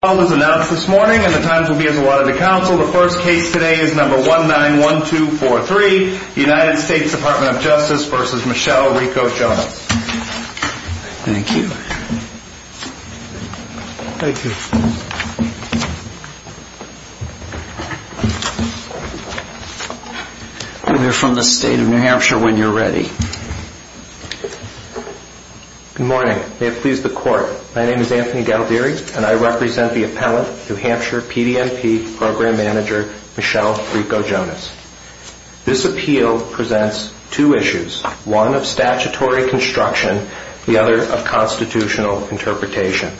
The trial is announced this morning and the times will be as allotted to counsel. The first case today is number 191243, United States Dep't of Justice v. Michelle Ricco Jonas. Thank you. Thank you. You're from the state of New Hampshire when you're ready. Good morning. May it please the court, my name is Anthony Galdieri and I represent the appellant, New Hampshire PDMP Program Manager Michelle Ricco Jonas. This appeal presents two issues, one of statutory construction, the other of constitutional interpretation.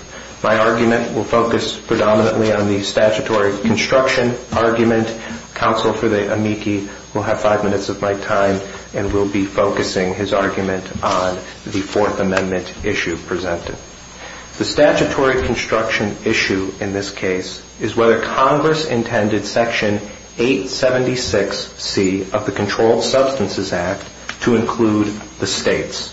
My argument will focus predominantly on the statutory construction argument. Counsel for the amici will have five minutes of my time and will be focusing his argument on the Fourth Amendment issue presented. The statutory construction issue in this case is whether Congress intended Section 876C of the Controlled Substances Act to include the states.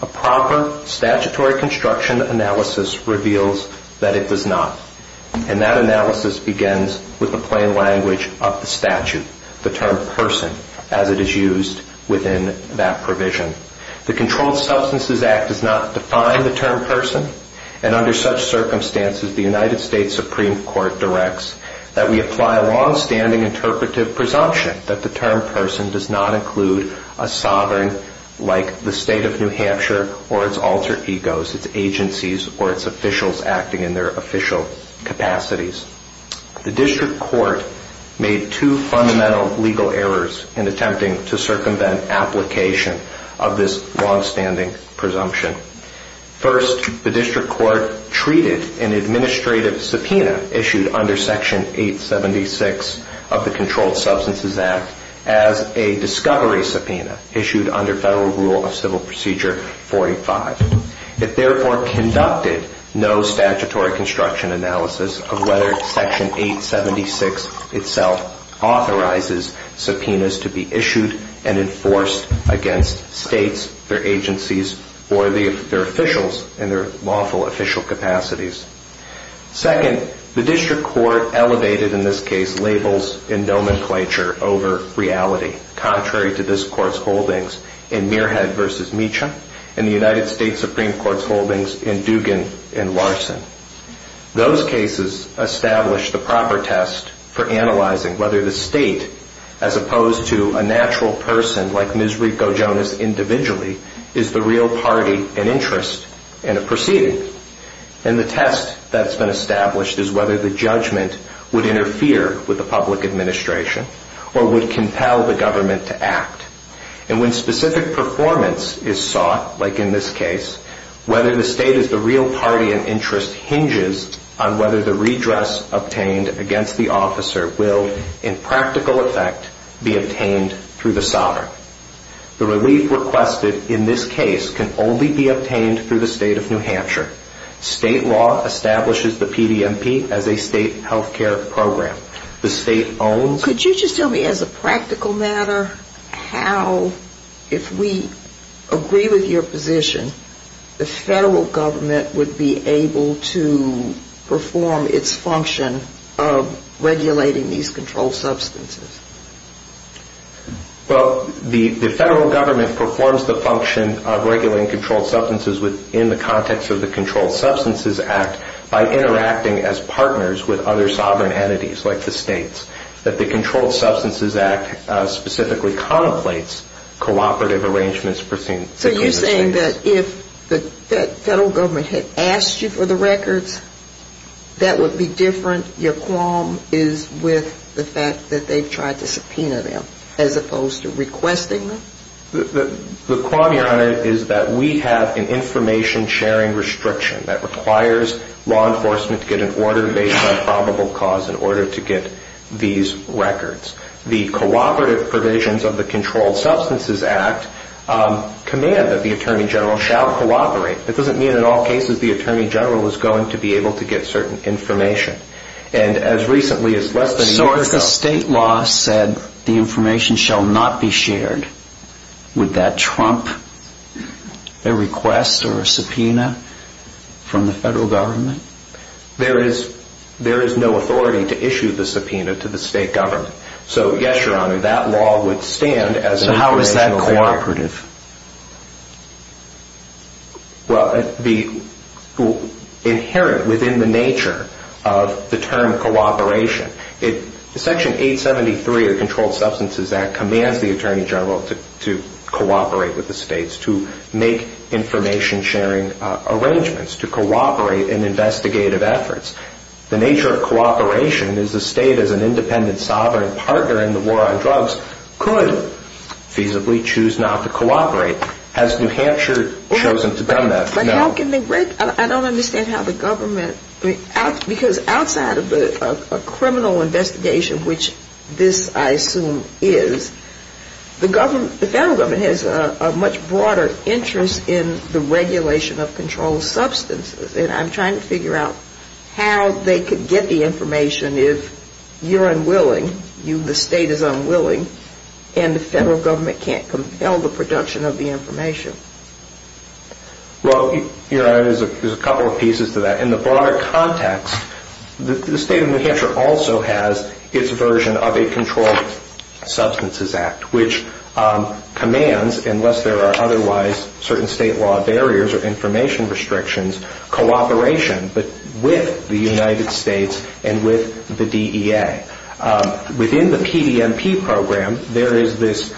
A proper statutory construction analysis reveals that it does not. And that analysis begins with the plain language of the statute, the term person, as it is used within that provision. The Controlled Substances Act does not define the term person and under such circumstances the United States Supreme Court directs that we apply a long-standing interpretive presumption that the term person does not include a sovereign like the state of New Hampshire or its alter egos, its agencies or its officials acting in their official capacities. The District Court made two fundamental legal errors in attempting to circumvent application of this long-standing presumption. First, the District Court treated an administrative subpoena issued under Section 876 of the Controlled Substances Act as a discovery subpoena issued under federal rule of civil procedure 45. It therefore conducted no statutory construction analysis of whether Section 876 itself authorizes subpoenas to be issued and enforced against states, their agencies, or their officials in their lawful official capacities. Second, the District Court elevated in this case labels and nomenclature over reality, contrary to this Court's holdings in Mearhead v. Meacham and the United States Supreme Court's holdings in Dugan v. Larson. Those cases establish the proper test for analyzing whether the state, as opposed to a natural person like Ms. Rico Jonas individually, is the real party and interest in a proceeding. And the test that's been established is whether the judgment would interfere with the public administration or would compel the government to act. And when specific performance is sought, like in this case, whether the state is the real party and interest hinges on whether the redress obtained against the officer will, in practical effect, be obtained through the sovereign. The relief requested in this case can only be obtained through the state of New Hampshire. State law establishes the PDMP as a state health care program. The state owns... Could you just tell me, as a practical matter, how, if we agree with your position, the federal government would be able to perform its function of regulating these controlled substances? Well, the federal government performs the function of regulating controlled substances within the context of the Controlled Substances Act by interacting as partners with other sovereign entities, like the states. That the Controlled Substances Act specifically contemplates cooperative arrangements between the states. Are you saying that if the federal government had asked you for the records, that would be different? Your qualm is with the fact that they've tried to subpoena them, as opposed to requesting them? The qualm, Your Honor, is that we have an information-sharing restriction that requires law enforcement to get an order based on probable cause in order to get these records. The cooperative provisions of the Controlled Substances Act command that the Attorney General shall cooperate. That doesn't mean in all cases the Attorney General is going to be able to get certain information. And as recently as less than a year ago... So if the state law said the information shall not be shared, would that trump a request or a subpoena from the federal government? There is no authority to issue the subpoena to the state government. So yes, Your Honor, that law would stand as... So how is that cooperative? Well, inherent within the nature of the term cooperation, Section 873 of the Controlled Substances Act commands the Attorney General to cooperate with the states, to make information-sharing arrangements, to cooperate in investigative efforts. The nature of cooperation is the state as an independent, sovereign partner in the war on drugs could feasibly choose not to cooperate. Has New Hampshire chosen to do that? I don't understand how the government... Because outside of a criminal investigation, which this, I assume, is, the federal government has a much broader interest in the regulation of controlled substances. And I'm trying to figure out how they could get the information if you're unwilling, the state is unwilling, and the federal government can't compel the production of the information. Well, Your Honor, there's a couple of pieces to that. In the broader context, the state of New Hampshire also has its version of a Controlled Substances Act, which commands, unless there are otherwise certain state law barriers or information restrictions, cooperation with the United States and with the DEA. Within the PDMP program, there is this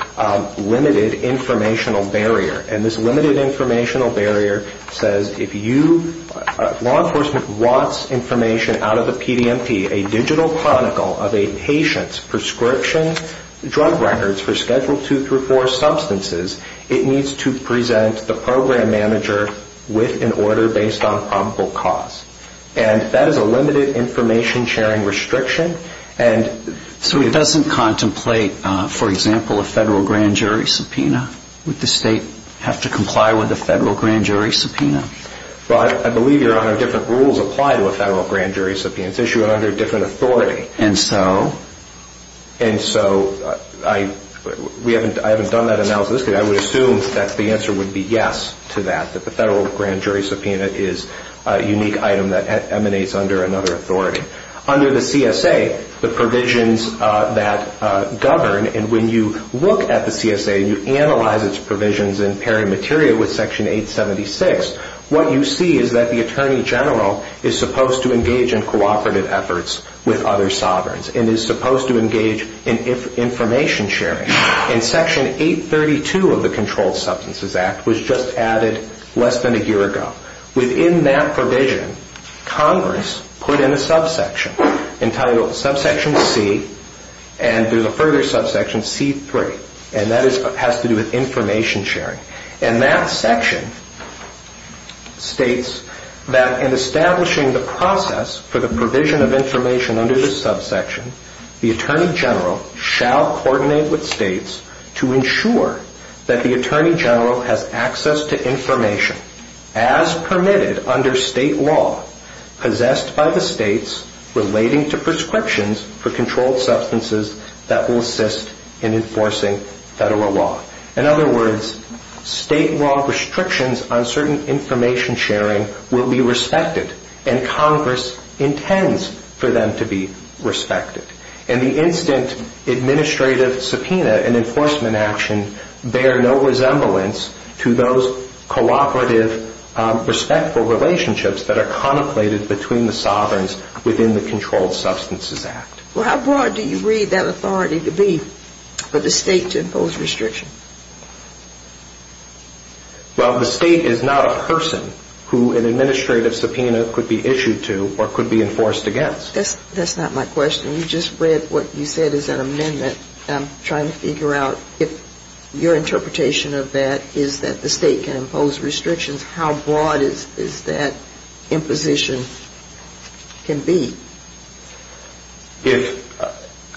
limited informational barrier. And this limited informational barrier says if you, if law enforcement wants information out of the PDMP, a digital chronicle of a patient's prescription drug records for Schedule II-IV substances, it needs to present the program manager with an order based on probable cause. And that is a limited information sharing restriction. So it doesn't contemplate, for example, a federal grand jury subpoena? Would the state have to comply with a federal grand jury subpoena? Well, I believe, Your Honor, different rules apply to a federal grand jury subpoena. It's issued under a different authority. And so? And so I, we haven't, I haven't done that analysis. I would assume that the answer would be yes to that, that the federal grand jury subpoena is a unique item that emanates under another authority. Under the CSA, the provisions that govern, and when you look at the CSA and you analyze its provisions in pairing material with Section 876, what you see is that the Attorney General is supposed to engage in cooperative efforts with other sovereigns and is supposed to engage in information sharing. And Section 832 of the Controlled Substances Act was just added less than a year ago. Within that provision, Congress put in a subsection entitled Subsection C, and there's a further subsection, C-3, and that has to do with information sharing. And that section states that in establishing the process for the provision of information under the subsection, the Attorney General shall coordinate with states to ensure that the Attorney General has access to information as permitted under state law possessed by the states relating to prescriptions for controlled substances that will assist in enforcing federal law. In other words, state law restrictions on certain information sharing will be respected, and Congress intends for them to be respected. And the instant administrative subpoena and enforcement action bear no resemblance to those cooperative, respectful relationships that are contemplated between the sovereigns within the Controlled Substances Act. Well, how broad do you read that authority to be for the state to impose restriction? Well, the state is not a person who an administrative subpoena could be issued to or could be enforced against. That's not my question. You just read what you said is an amendment. I'm trying to figure out if your interpretation of that is that the state can impose restrictions. How broad is that imposition can be?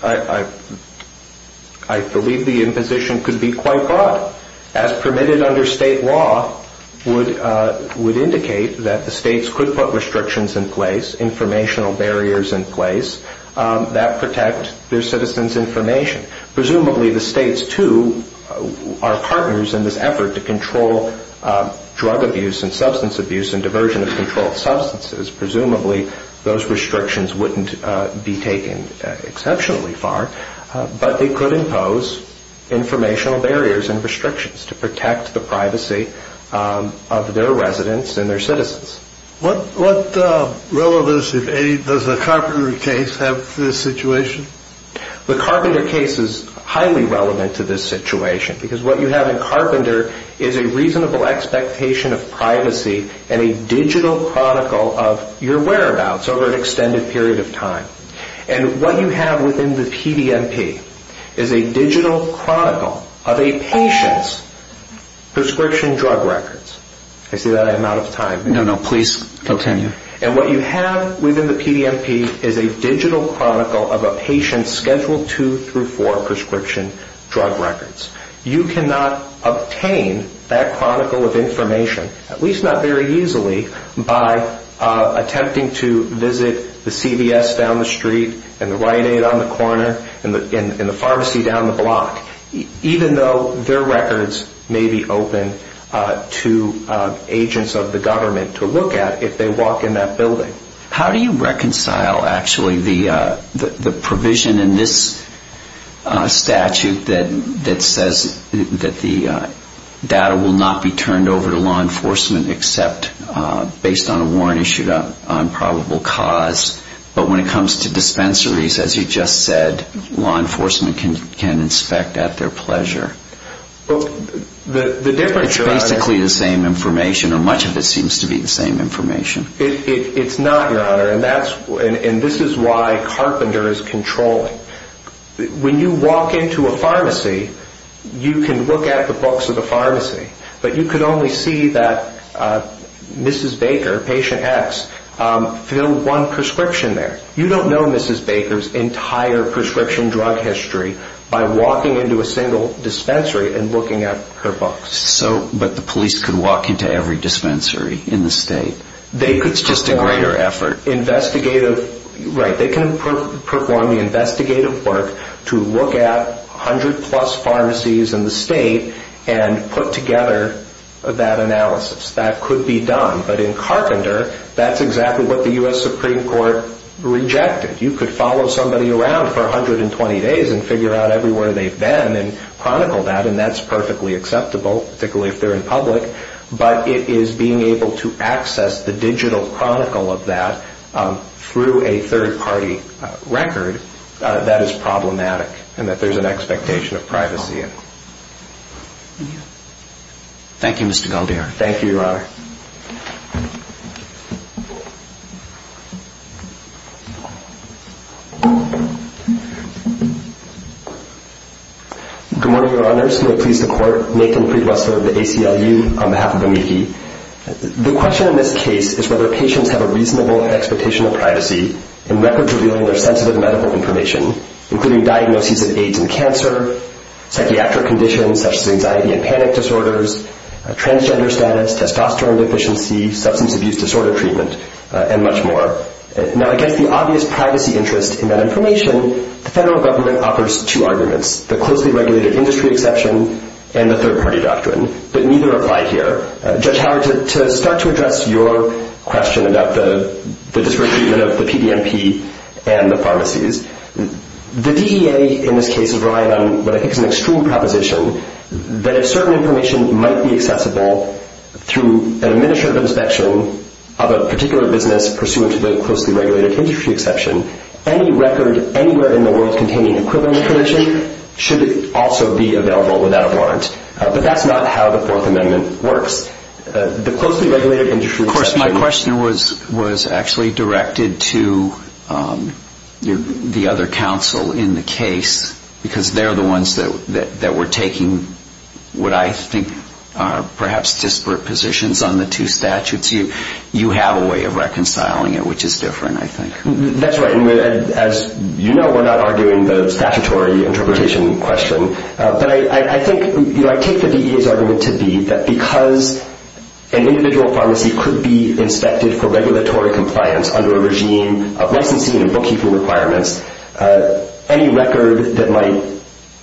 I believe the imposition could be quite broad. As permitted under state law would indicate that the states could put restrictions in place, informational barriers in place, that protect their citizens' information. Presumably, the states, too, are partners in this effort to control drug abuse and substance abuse and diversion of controlled substances. Presumably, those restrictions wouldn't be taken exceptionally far, but they could impose informational barriers and restrictions to protect the privacy of their residents and their citizens. What relevance, if any, does the Carpenter case have to this situation? The Carpenter case is highly relevant to this situation because what you have in Carpenter is a reasonable expectation of privacy and a digital chronicle of your whereabouts over an extended period of time. What you have within the PDMP is a digital chronicle of a patient's prescription drug records. Can I say that? I am out of time. No, no. Please continue. And what you have within the PDMP is a digital chronicle of a patient's Schedule 2 through 4 prescription drug records. You cannot obtain that chronicle of information, at least not very easily, by attempting to visit the CVS down the street and the Rite Aid on the corner and the pharmacy down the block, even though their records may be open to agents of the government to look at if they walk in that building. How do you reconcile, actually, the provision in this statute that says that the data will not be turned over to law enforcement except based on a warrant issued on probable cause, but when it comes to dispensaries, as you just said, law enforcement can inspect at their pleasure? It's basically the same information, or much of it seems to be the same information. It's not, Your Honor, and this is why Carpenter is controlling. When you walk into a pharmacy, you can look at the books of the pharmacy, but you can only see that Mrs. Baker, patient X, filled one prescription there. You don't know Mrs. Baker's entire prescription drug history by walking into a single dispensary and looking at her books. But the police can walk into every dispensary in the state? It's just a greater effort. Right. They can perform the investigative work to look at 100-plus pharmacies in the state and put together that analysis. That could be done, but in Carpenter, that's exactly what the U.S. Supreme Court rejected. You could follow somebody around for 120 days and figure out everywhere they've been and chronicle that, and that's perfectly acceptable, particularly if they're in public, but it is being able to access the digital chronicle of that through a third-party record that is problematic and that there's an expectation of privacy in. Thank you, Mr. Galdier. Thank you, Your Honor. Good morning, Your Honors. May it please the Court, Nathan Preetwesler of the ACLU on behalf of the media. The question in this case is whether patients have a reasonable expectation of privacy in record-revealing their sensitive medical information, including diagnoses of AIDS and cancer, psychiatric conditions such as anxiety and panic disorders, transgender status, testosterone deficiency, substance abuse disorder treatment, and much more. Now, against the obvious privacy interest in that information, the federal government offers two arguments, the closely regulated industry exception and the third-party doctrine, but neither apply here. Judge Howard, to start to address your question about the disproportionate treatment of the PDMP and the pharmacies, the DEA in this case has relied on what I think is an extreme proposition that if certain information might be accessible through an administrative inspection of a particular business pursuant to the closely regulated industry exception, any record anywhere in the world containing equivalent information should also be available without a warrant, but that's not how the Fourth Amendment works. Of course, my question was actually directed to the other counsel in the case, because they're the ones that were taking what I think are perhaps disparate positions on the two statutes. You have a way of reconciling it, which is different, I think. That's right, and as you know, we're not arguing the statutory interpretation question, but I take the DEA's argument to be that because an individual pharmacy could be inspected for regulatory compliance under a regime of licensing and bookkeeping requirements, any record that might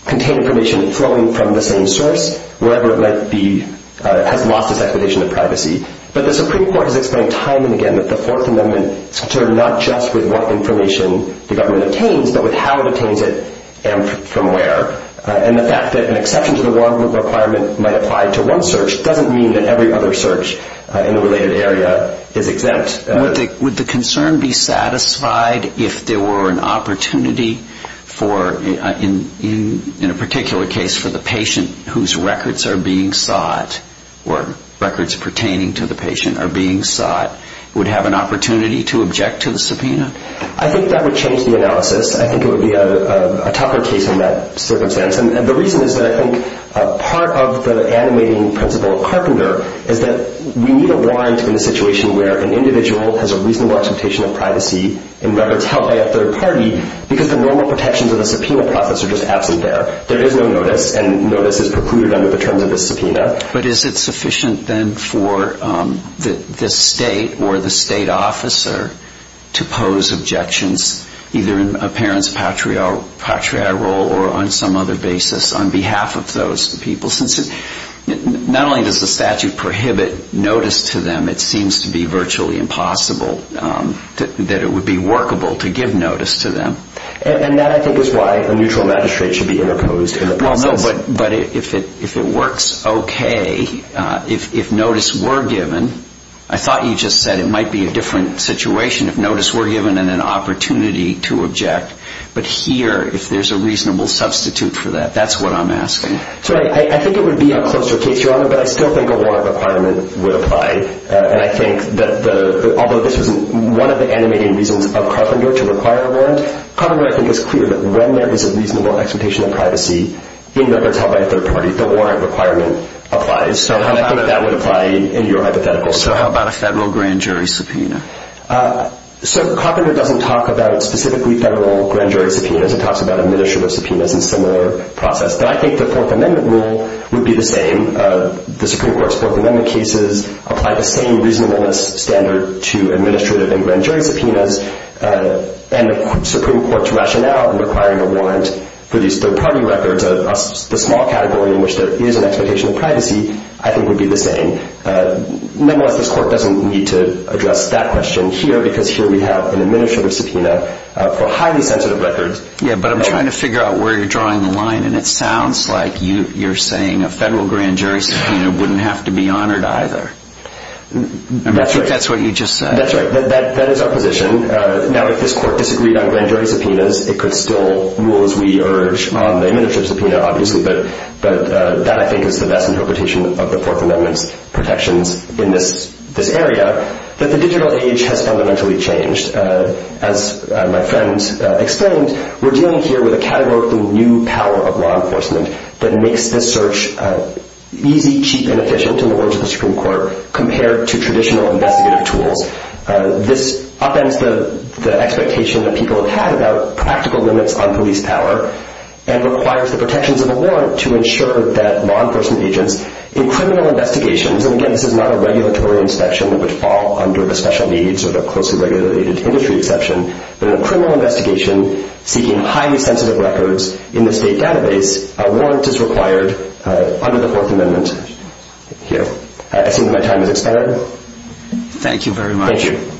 contain information flowing from the same source, wherever it might be, has lost its expectation of privacy. But the Supreme Court has explained time and again that the Fourth Amendment is concerned not just with what information the government obtains, but with how it obtains it and from where. And the fact that an exception to the warrant requirement might apply to one search doesn't mean that every other search in the related area is exempt. But would the concern be satisfied if there were an opportunity for, in a particular case, for the patient whose records are being sought, or records pertaining to the patient are being sought, would have an opportunity to object to the subpoena? I think that would change the analysis. I think it would be a tougher case in that circumstance. And the reason is that I think part of the animating principle of Carpenter is that we need a warrant in a situation where an individual has a reasonable expectation of privacy in records held by a third party because the normal protections of the subpoena process are just absent there. There is no notice, and notice is precluded under the terms of the subpoena. But is it sufficient then for the state or the state officer to pose objections, either in a parent's patriarchal or on some other basis, on behalf of those people? Since not only does the statute prohibit notice to them, it seems to be virtually impossible that it would be workable to give notice to them. And that, I think, is why a neutral magistrate should be interposed in the process. But if it works okay, if notice were given, I thought you just said it might be a different situation if notice were given and an opportunity to object. But here, if there's a reasonable substitute for that, that's what I'm asking. So I think it would be a closer case, Your Honor, but I still think a warrant requirement would apply. And I think that although this was one of the animating reasons of Carpenter to require a warrant, Carpenter, I think, is clear that when there is a reasonable expectation of privacy in records held by a third party, the warrant requirement applies. So I think that would apply in your hypothetical. So how about a federal grand jury subpoena? So Carpenter doesn't talk about specifically federal grand jury subpoenas. It talks about administrative subpoenas and similar process. But I think the Fourth Amendment rule would be the same. The Supreme Court's Fourth Amendment cases apply the same reasonableness standard to administrative and grand jury subpoenas. And the Supreme Court's rationale in requiring a warrant for these third party records, the small category in which there is an expectation of privacy, I think would be the same. Nonetheless, this Court doesn't need to address that question here, because here we have an administrative subpoena for highly sensitive records. Yeah, but I'm trying to figure out where you're drawing the line, and it sounds like you're saying a federal grand jury subpoena wouldn't have to be honored either. That's right. I think that's what you just said. That's right. That is our position. Now, if this Court disagreed on grand jury subpoenas, it could still rule as we urge on the administrative subpoena, obviously. But that, I think, is the best interpretation of the Fourth Amendment's protections in this area. But the digital age has fundamentally changed. As my friend explained, we're dealing here with a categorically new power of law enforcement that makes this search easy, cheap, and efficient, in the words of the Supreme Court, compared to traditional investigative tools. This upends the expectation that people have had about practical limits on police power and requires the protections of a warrant to ensure that law enforcement agents in criminal investigations, and again, this is not a regulatory inspection that would fall under the special needs or the closely regulated industry exception, but in a criminal investigation seeking highly sensitive records in the state database, a warrant is required under the Fourth Amendment here. I see that my time has expired. Thank you very much. Thank you.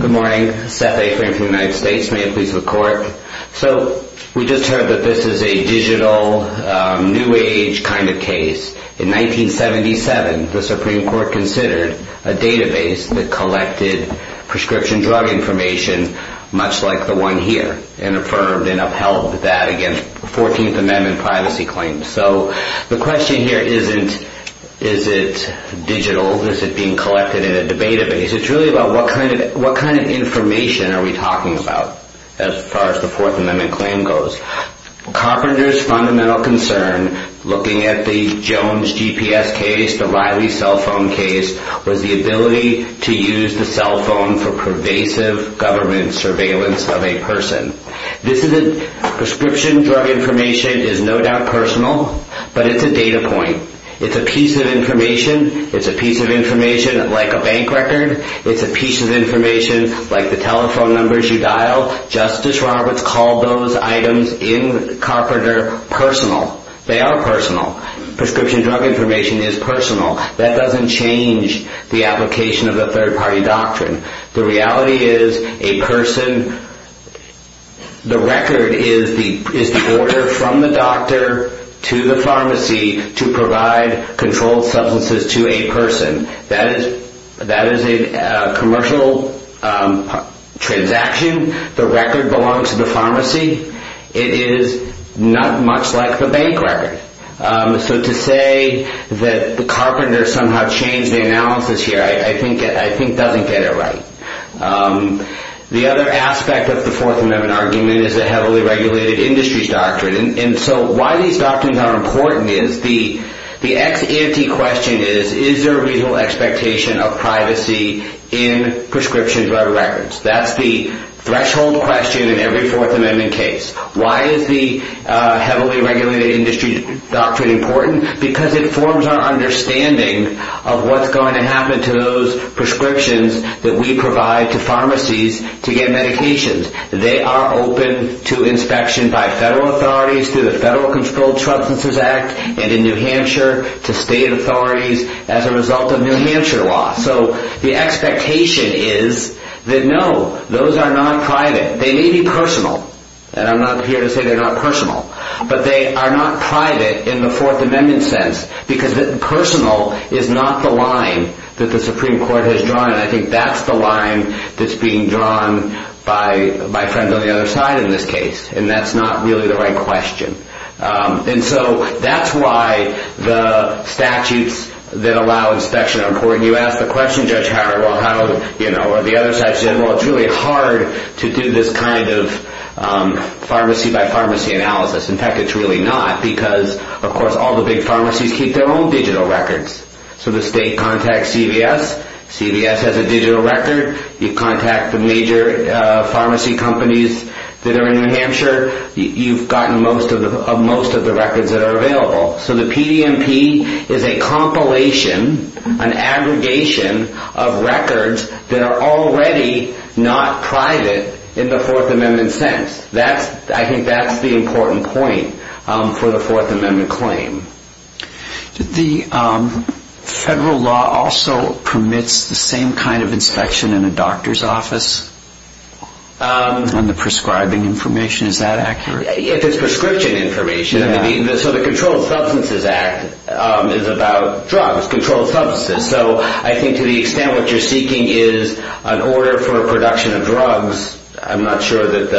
Good morning. Seth A. Frank of the United States. May it please the Court. So we just heard that this is a digital, new age kind of case. In 1977, the Supreme Court considered a database that collected prescription drug information, much like the one here, and affirmed and upheld that against 14th Amendment privacy claims. So the question here isn't, is it digital? Is it being collected in a database? It's really about what kind of information are we talking about as far as the Fourth Amendment claim goes. Carpenter's fundamental concern, looking at the Jones GPS case, the Riley cell phone case, was the ability to use the cell phone for pervasive government surveillance of a person. This is a prescription drug information is no doubt personal, but it's a data point. It's a piece of information. It's a piece of information like a bank record. It's a piece of information like the telephone numbers you dial. Justice Roberts called those items in Carpenter personal. They are personal. Prescription drug information is personal. That doesn't change the application of the third-party doctrine. The reality is a person, the record is the order from the doctor to the pharmacy to provide controlled substances to a person. That is a commercial transaction. The record belongs to the pharmacy. It is not much like the bank record. To say that Carpenter somehow changed the analysis here I think doesn't get it right. The other aspect of the Fourth Amendment argument is a heavily regulated industry doctrine. Why these doctrines are important is the ex-ante question is, is there a legal expectation of privacy in prescription drug records? That's the threshold question in every Fourth Amendment case. Why is the heavily regulated industry doctrine important? Because it forms our understanding of what's going to happen to those prescriptions that we provide to pharmacies to get medications. They are open to inspection by federal authorities through the Federal Controlled Substances Act and in New Hampshire to state authorities as a result of New Hampshire law. So the expectation is that no, those are not private. They may be personal. I'm not here to say they're not personal. But they are not private in the Fourth Amendment sense because personal is not the line that the Supreme Court has drawn. I think that's the line that's being drawn by friends on the other side in this case. That's not really the right question. That's why the statutes that allow inspection are important. When you ask the question, Judge Howard, or the other side, it's really hard to do this kind of pharmacy-by-pharmacy analysis. In fact, it's really not because, of course, all the big pharmacies keep their own digital records. So the state contacts CVS. CVS has a digital record. You contact the major pharmacy companies that are in New Hampshire. You've gotten most of the records that are available. So the PDMP is a compilation, an aggregation of records that are already not private in the Fourth Amendment sense. I think that's the important point for the Fourth Amendment claim. The federal law also permits the same kind of inspection in a doctor's office on the prescribing information. Is that accurate? If it's prescription information. So the Controlled Substances Act is about drugs, controlled substances. So I think to the extent what you're seeking is an order for production of drugs, I'm not sure that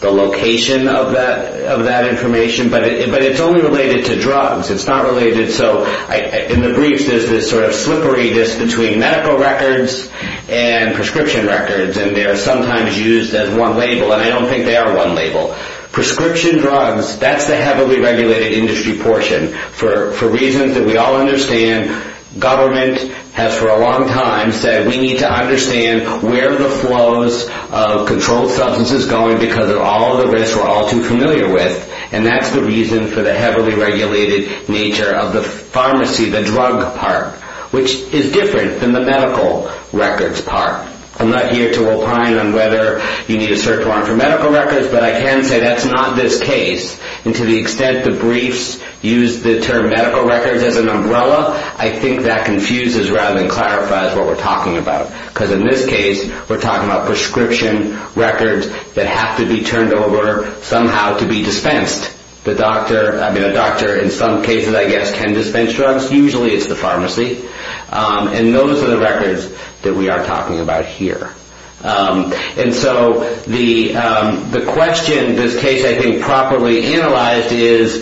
the location of that information. But it's only related to drugs. It's not related. So in the briefs, there's this sort of slipperiness between medical records and prescription records. And they are sometimes used as one label. And I don't think they are one label. Prescription drugs, that's the heavily regulated industry portion for reasons that we all understand. Government has for a long time said we need to understand where the flows of controlled substances are going because of all the risks we're all too familiar with. And that's the reason for the heavily regulated nature of the pharmacy, the drug part, which is different than the medical records part. I'm not here to opine on whether you need to search long for medical records, but I can say that's not this case. And to the extent the briefs use the term medical records as an umbrella, I think that confuses rather than clarifies what we're talking about. Because in this case, we're talking about prescription records that have to be turned over somehow to be dispensed. The doctor, I mean, a doctor in some cases, I guess, can dispense drugs. Usually it's the pharmacy. And those are the records that we are talking about here. And so the question in this case, I think, properly analyzed is,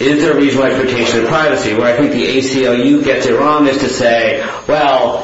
is there a reasonable expectation of privacy? Where I think the ACLU gets it wrong is to say, well,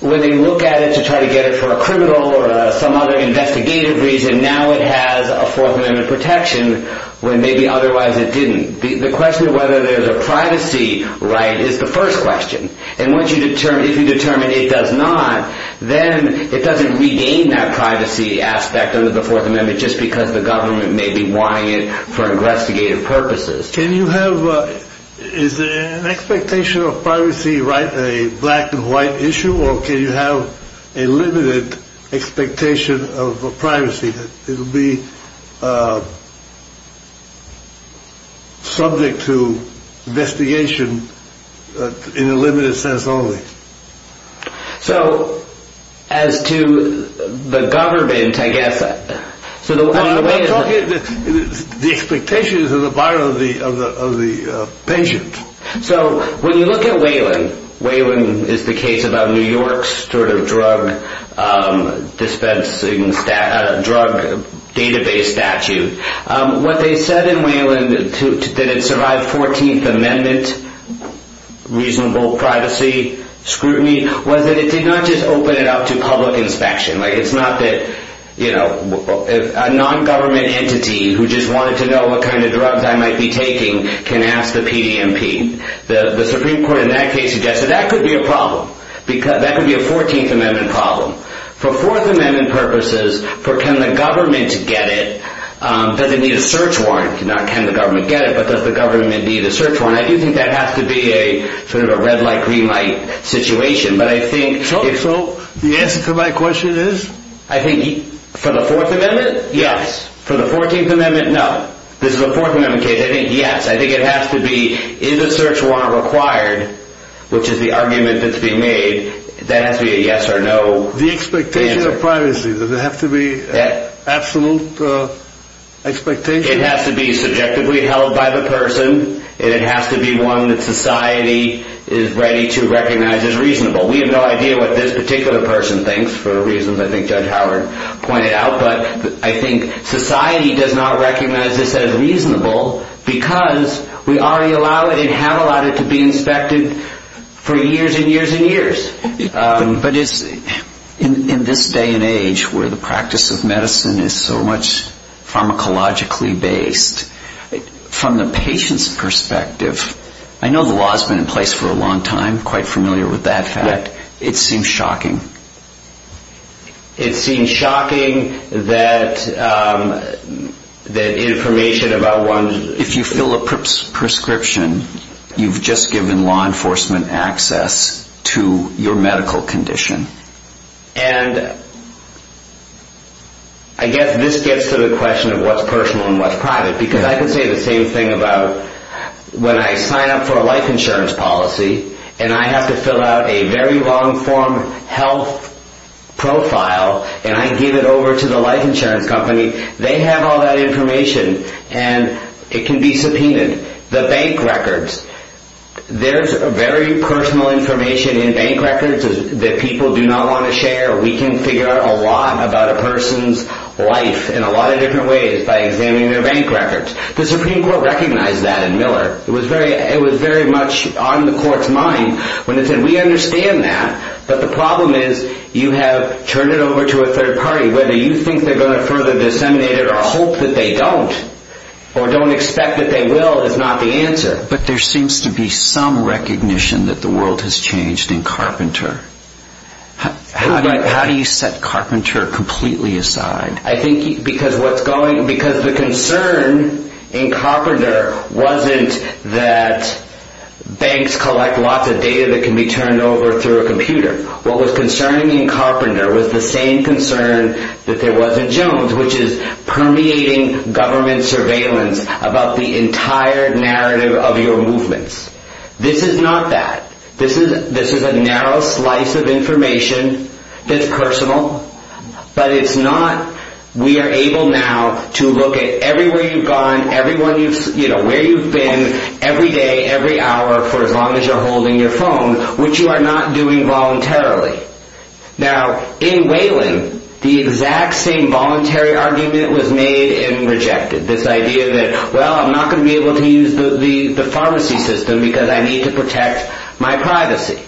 when they look at it to try to get it for a criminal or some other investigative reason, now it has a Fourth Amendment protection when maybe otherwise it didn't. The question of whether there's a privacy right is the first question. And once you determine, if you determine it does not, then it doesn't regain that privacy aspect under the Fourth Amendment just because the government may be wanting it for investigative purposes. Can you have, is an expectation of privacy right a black and white issue? Or can you have a limited expectation of privacy? It'll be subject to investigation in a limited sense only. So as to the government, I guess. So the expectation is the buyer of the of the of the patient. So when you look at Wayland, Wayland is the case about New York's sort of drug dispensing drug database statute. What they said in Wayland that it survived 14th Amendment reasonable privacy scrutiny was that it did not just open it up to public inspection. It's not that a non-government entity who just wanted to know what kind of drugs I might be taking can ask the PDMP. The Supreme Court in that case suggested that could be a problem because that could be a 14th Amendment problem. For Fourth Amendment purposes, can the government get it? Does it need a search warrant? Not can the government get it, but does the government need a search warrant? I do think that has to be a sort of a red light, green light situation. So the answer to my question is? I think for the Fourth Amendment, yes. For the 14th Amendment, no. This is a Fourth Amendment case, I think yes. I think it has to be, is a search warrant required, which is the argument that's being made, that has to be a yes or no answer. The expectation of privacy, does it have to be absolute expectation? It has to be subjectively held by the person, and it has to be one that society is ready to recognize as reasonable. We have no idea what this particular person thinks for reasons I think Judge Howard pointed out, but I think society does not recognize this as reasonable because we already allow it and have allowed it to be inspected for years and years and years. But in this day and age where the practice of medicine is so much pharmacologically based, from the patient's perspective, I know the law has been in place for a long time, quite familiar with that fact, it seems shocking. It seems shocking that information about one's... And I guess this gets to the question of what's personal and what's private, because I can say the same thing about when I sign up for a life insurance policy and I have to fill out a very long form health profile and I give it over to the life insurance company, they have all that information and it can be subpoenaed. The bank records. There's very personal information in bank records that people do not want to share. We can figure out a lot about a person's life in a lot of different ways by examining their bank records. The Supreme Court recognized that in Miller. It was very much on the Court's mind when it said we understand that, but the problem is you have turned it over to a third party. Whether you think they're going to further disseminate it or hope that they don't, or don't expect that they will is not the answer. But there seems to be some recognition that the world has changed in Carpenter. How do you set Carpenter completely aside? I think because the concern in Carpenter wasn't that banks collect lots of data that can be turned over through a computer. What was concerning in Carpenter was the same concern that there was in Jones, which is permeating government surveillance about the entire narrative of your movements. This is not that. This is a narrow slice of information that's personal, but it's not we are able now to look at everywhere you've gone, where you've been every day, every hour, for as long as you're holding your phone, which you are not doing voluntarily. Now, in Wayland, the exact same voluntary argument was made and rejected. This idea that, well, I'm not going to be able to use the pharmacy system because I need to protect my privacy.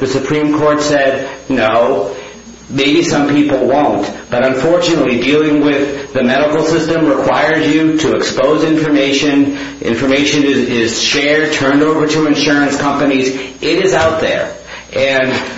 The Supreme Court said, no, maybe some people won't, but unfortunately dealing with the medical system requires you to expose information. Information is shared, turned over to insurance companies. It is out there. And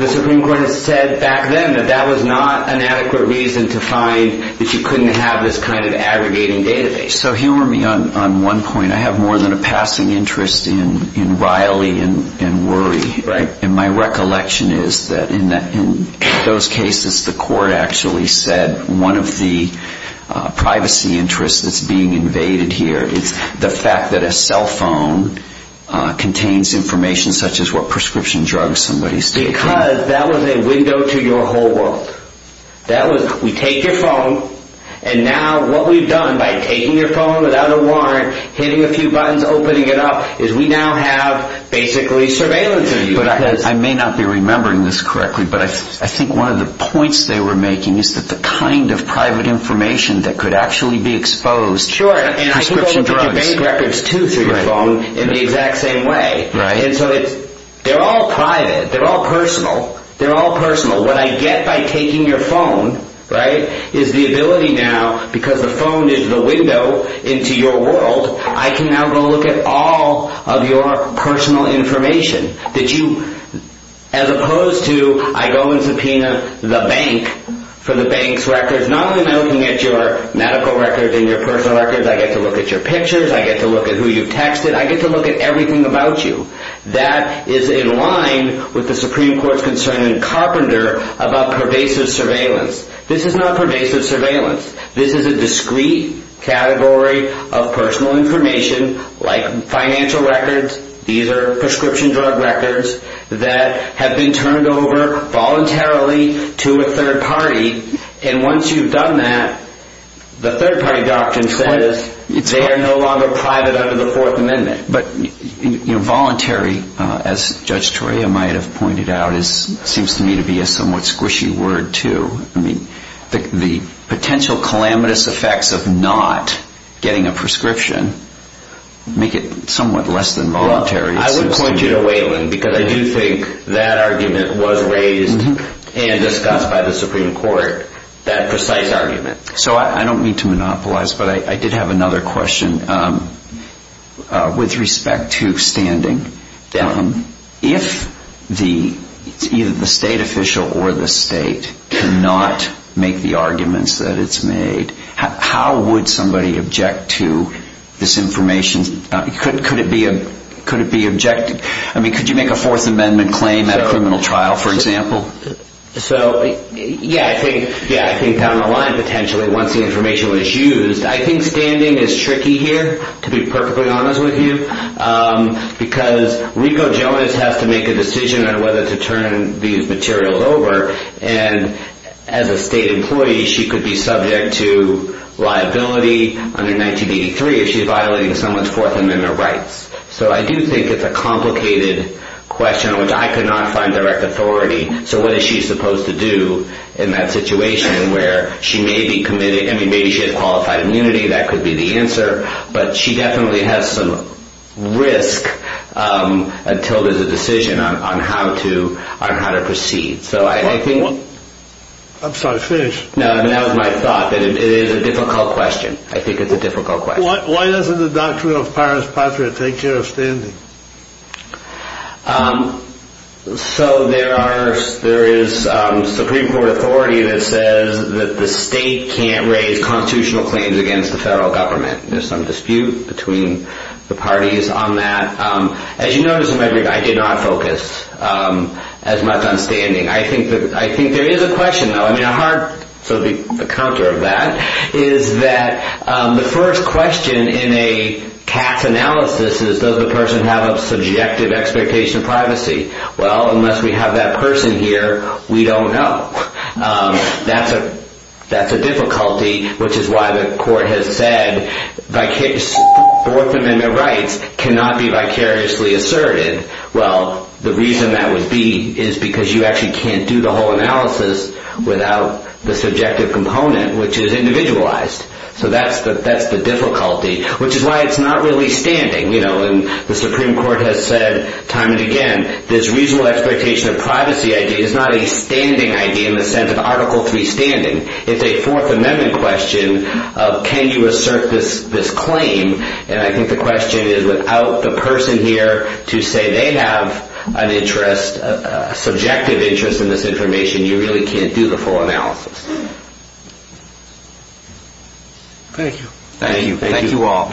the Supreme Court has said back then that that was not an adequate reason to find that you couldn't have this kind of aggregating database. So humor me on one point. I have more than a passing interest in Riley and Worry. Right. And my recollection is that in those cases, the court actually said one of the privacy interests that's being invaded here is the fact that a cell phone contains information such as what prescription drugs somebody's taking. Because that was a window to your whole world. We take your phone, and now what we've done by taking your phone without a warrant, hitting a few buttons, opening it up, is we now have basically surveillance of you. But I may not be remembering this correctly, but I think one of the points they were making is that the kind of private information that could actually be exposed. Sure. And I think they'll look at your bank records, too, through your phone in the exact same way. Right. And so they're all private. They're all personal. They're all personal. What I get by taking your phone, right, is the ability now, because the phone is the window into your world, I can now go look at all of your personal information that you, as opposed to I go and subpoena the bank for the bank's records. Not only am I looking at your medical records and your personal records, I get to look at your pictures. I get to look at who you've texted. I get to look at everything about you. That is in line with the Supreme Court's concern in Carpenter about pervasive surveillance. This is not pervasive surveillance. This is a discrete category of personal information like financial records. These are prescription drug records that have been turned over voluntarily to a third party. And once you've done that, the third party doctor says they are no longer private under the Fourth Amendment. But voluntary, as Judge Toria might have pointed out, seems to me to be a somewhat squishy word, too. The potential calamitous effects of not getting a prescription make it somewhat less than voluntary. I would point you to Whalen because I do think that argument was raised and discussed by the Supreme Court, that precise argument. So I don't mean to monopolize, but I did have another question with respect to standing. If either the state official or the state cannot make the arguments that it's made, how would somebody object to this information? Could it be objected? Could you make a Fourth Amendment claim at a criminal trial, for example? Yeah, I think down the line, potentially, once the information was used. I think standing is tricky here, to be perfectly honest with you, because Rico Jonas has to make a decision on whether to turn these materials over. And as a state employee, she could be subject to liability under 1983 if she's violating someone's Fourth Amendment rights. So I do think it's a complicated question, which I could not find direct authority. So what is she supposed to do in that situation where she may be committed? I mean, maybe she has qualified immunity. That could be the answer. But she definitely has some risk until there's a decision on how to proceed. I'm sorry, finish. No, that was my thought, that it is a difficult question. I think it's a difficult question. Why doesn't the Doctrine of Paris Patriot take care of standing? So there is Supreme Court authority that says that the state can't raise constitutional claims against the federal government. There's some dispute between the parties on that. As you notice, I did not focus as much on standing. I think there is a question, though. I mean, the counter of that is that the first question in a Cass analysis is, does the person have a subjective expectation of privacy? Well, unless we have that person here, we don't know. That's a difficulty, which is why the court has said orphan and their rights cannot be vicariously asserted. Well, the reason that would be is because you actually can't do the whole analysis without the subjective component, which is individualized. So that's the difficulty, which is why it's not really standing. The Supreme Court has said time and again, this reasonable expectation of privacy idea is not a standing idea in the sense of Article III standing. It's a Fourth Amendment question of, can you assert this claim? And I think the question is, without the person here to say they have a subjective interest in this information, you really can't do the full analysis. Thank you. Thank you. Thank you all.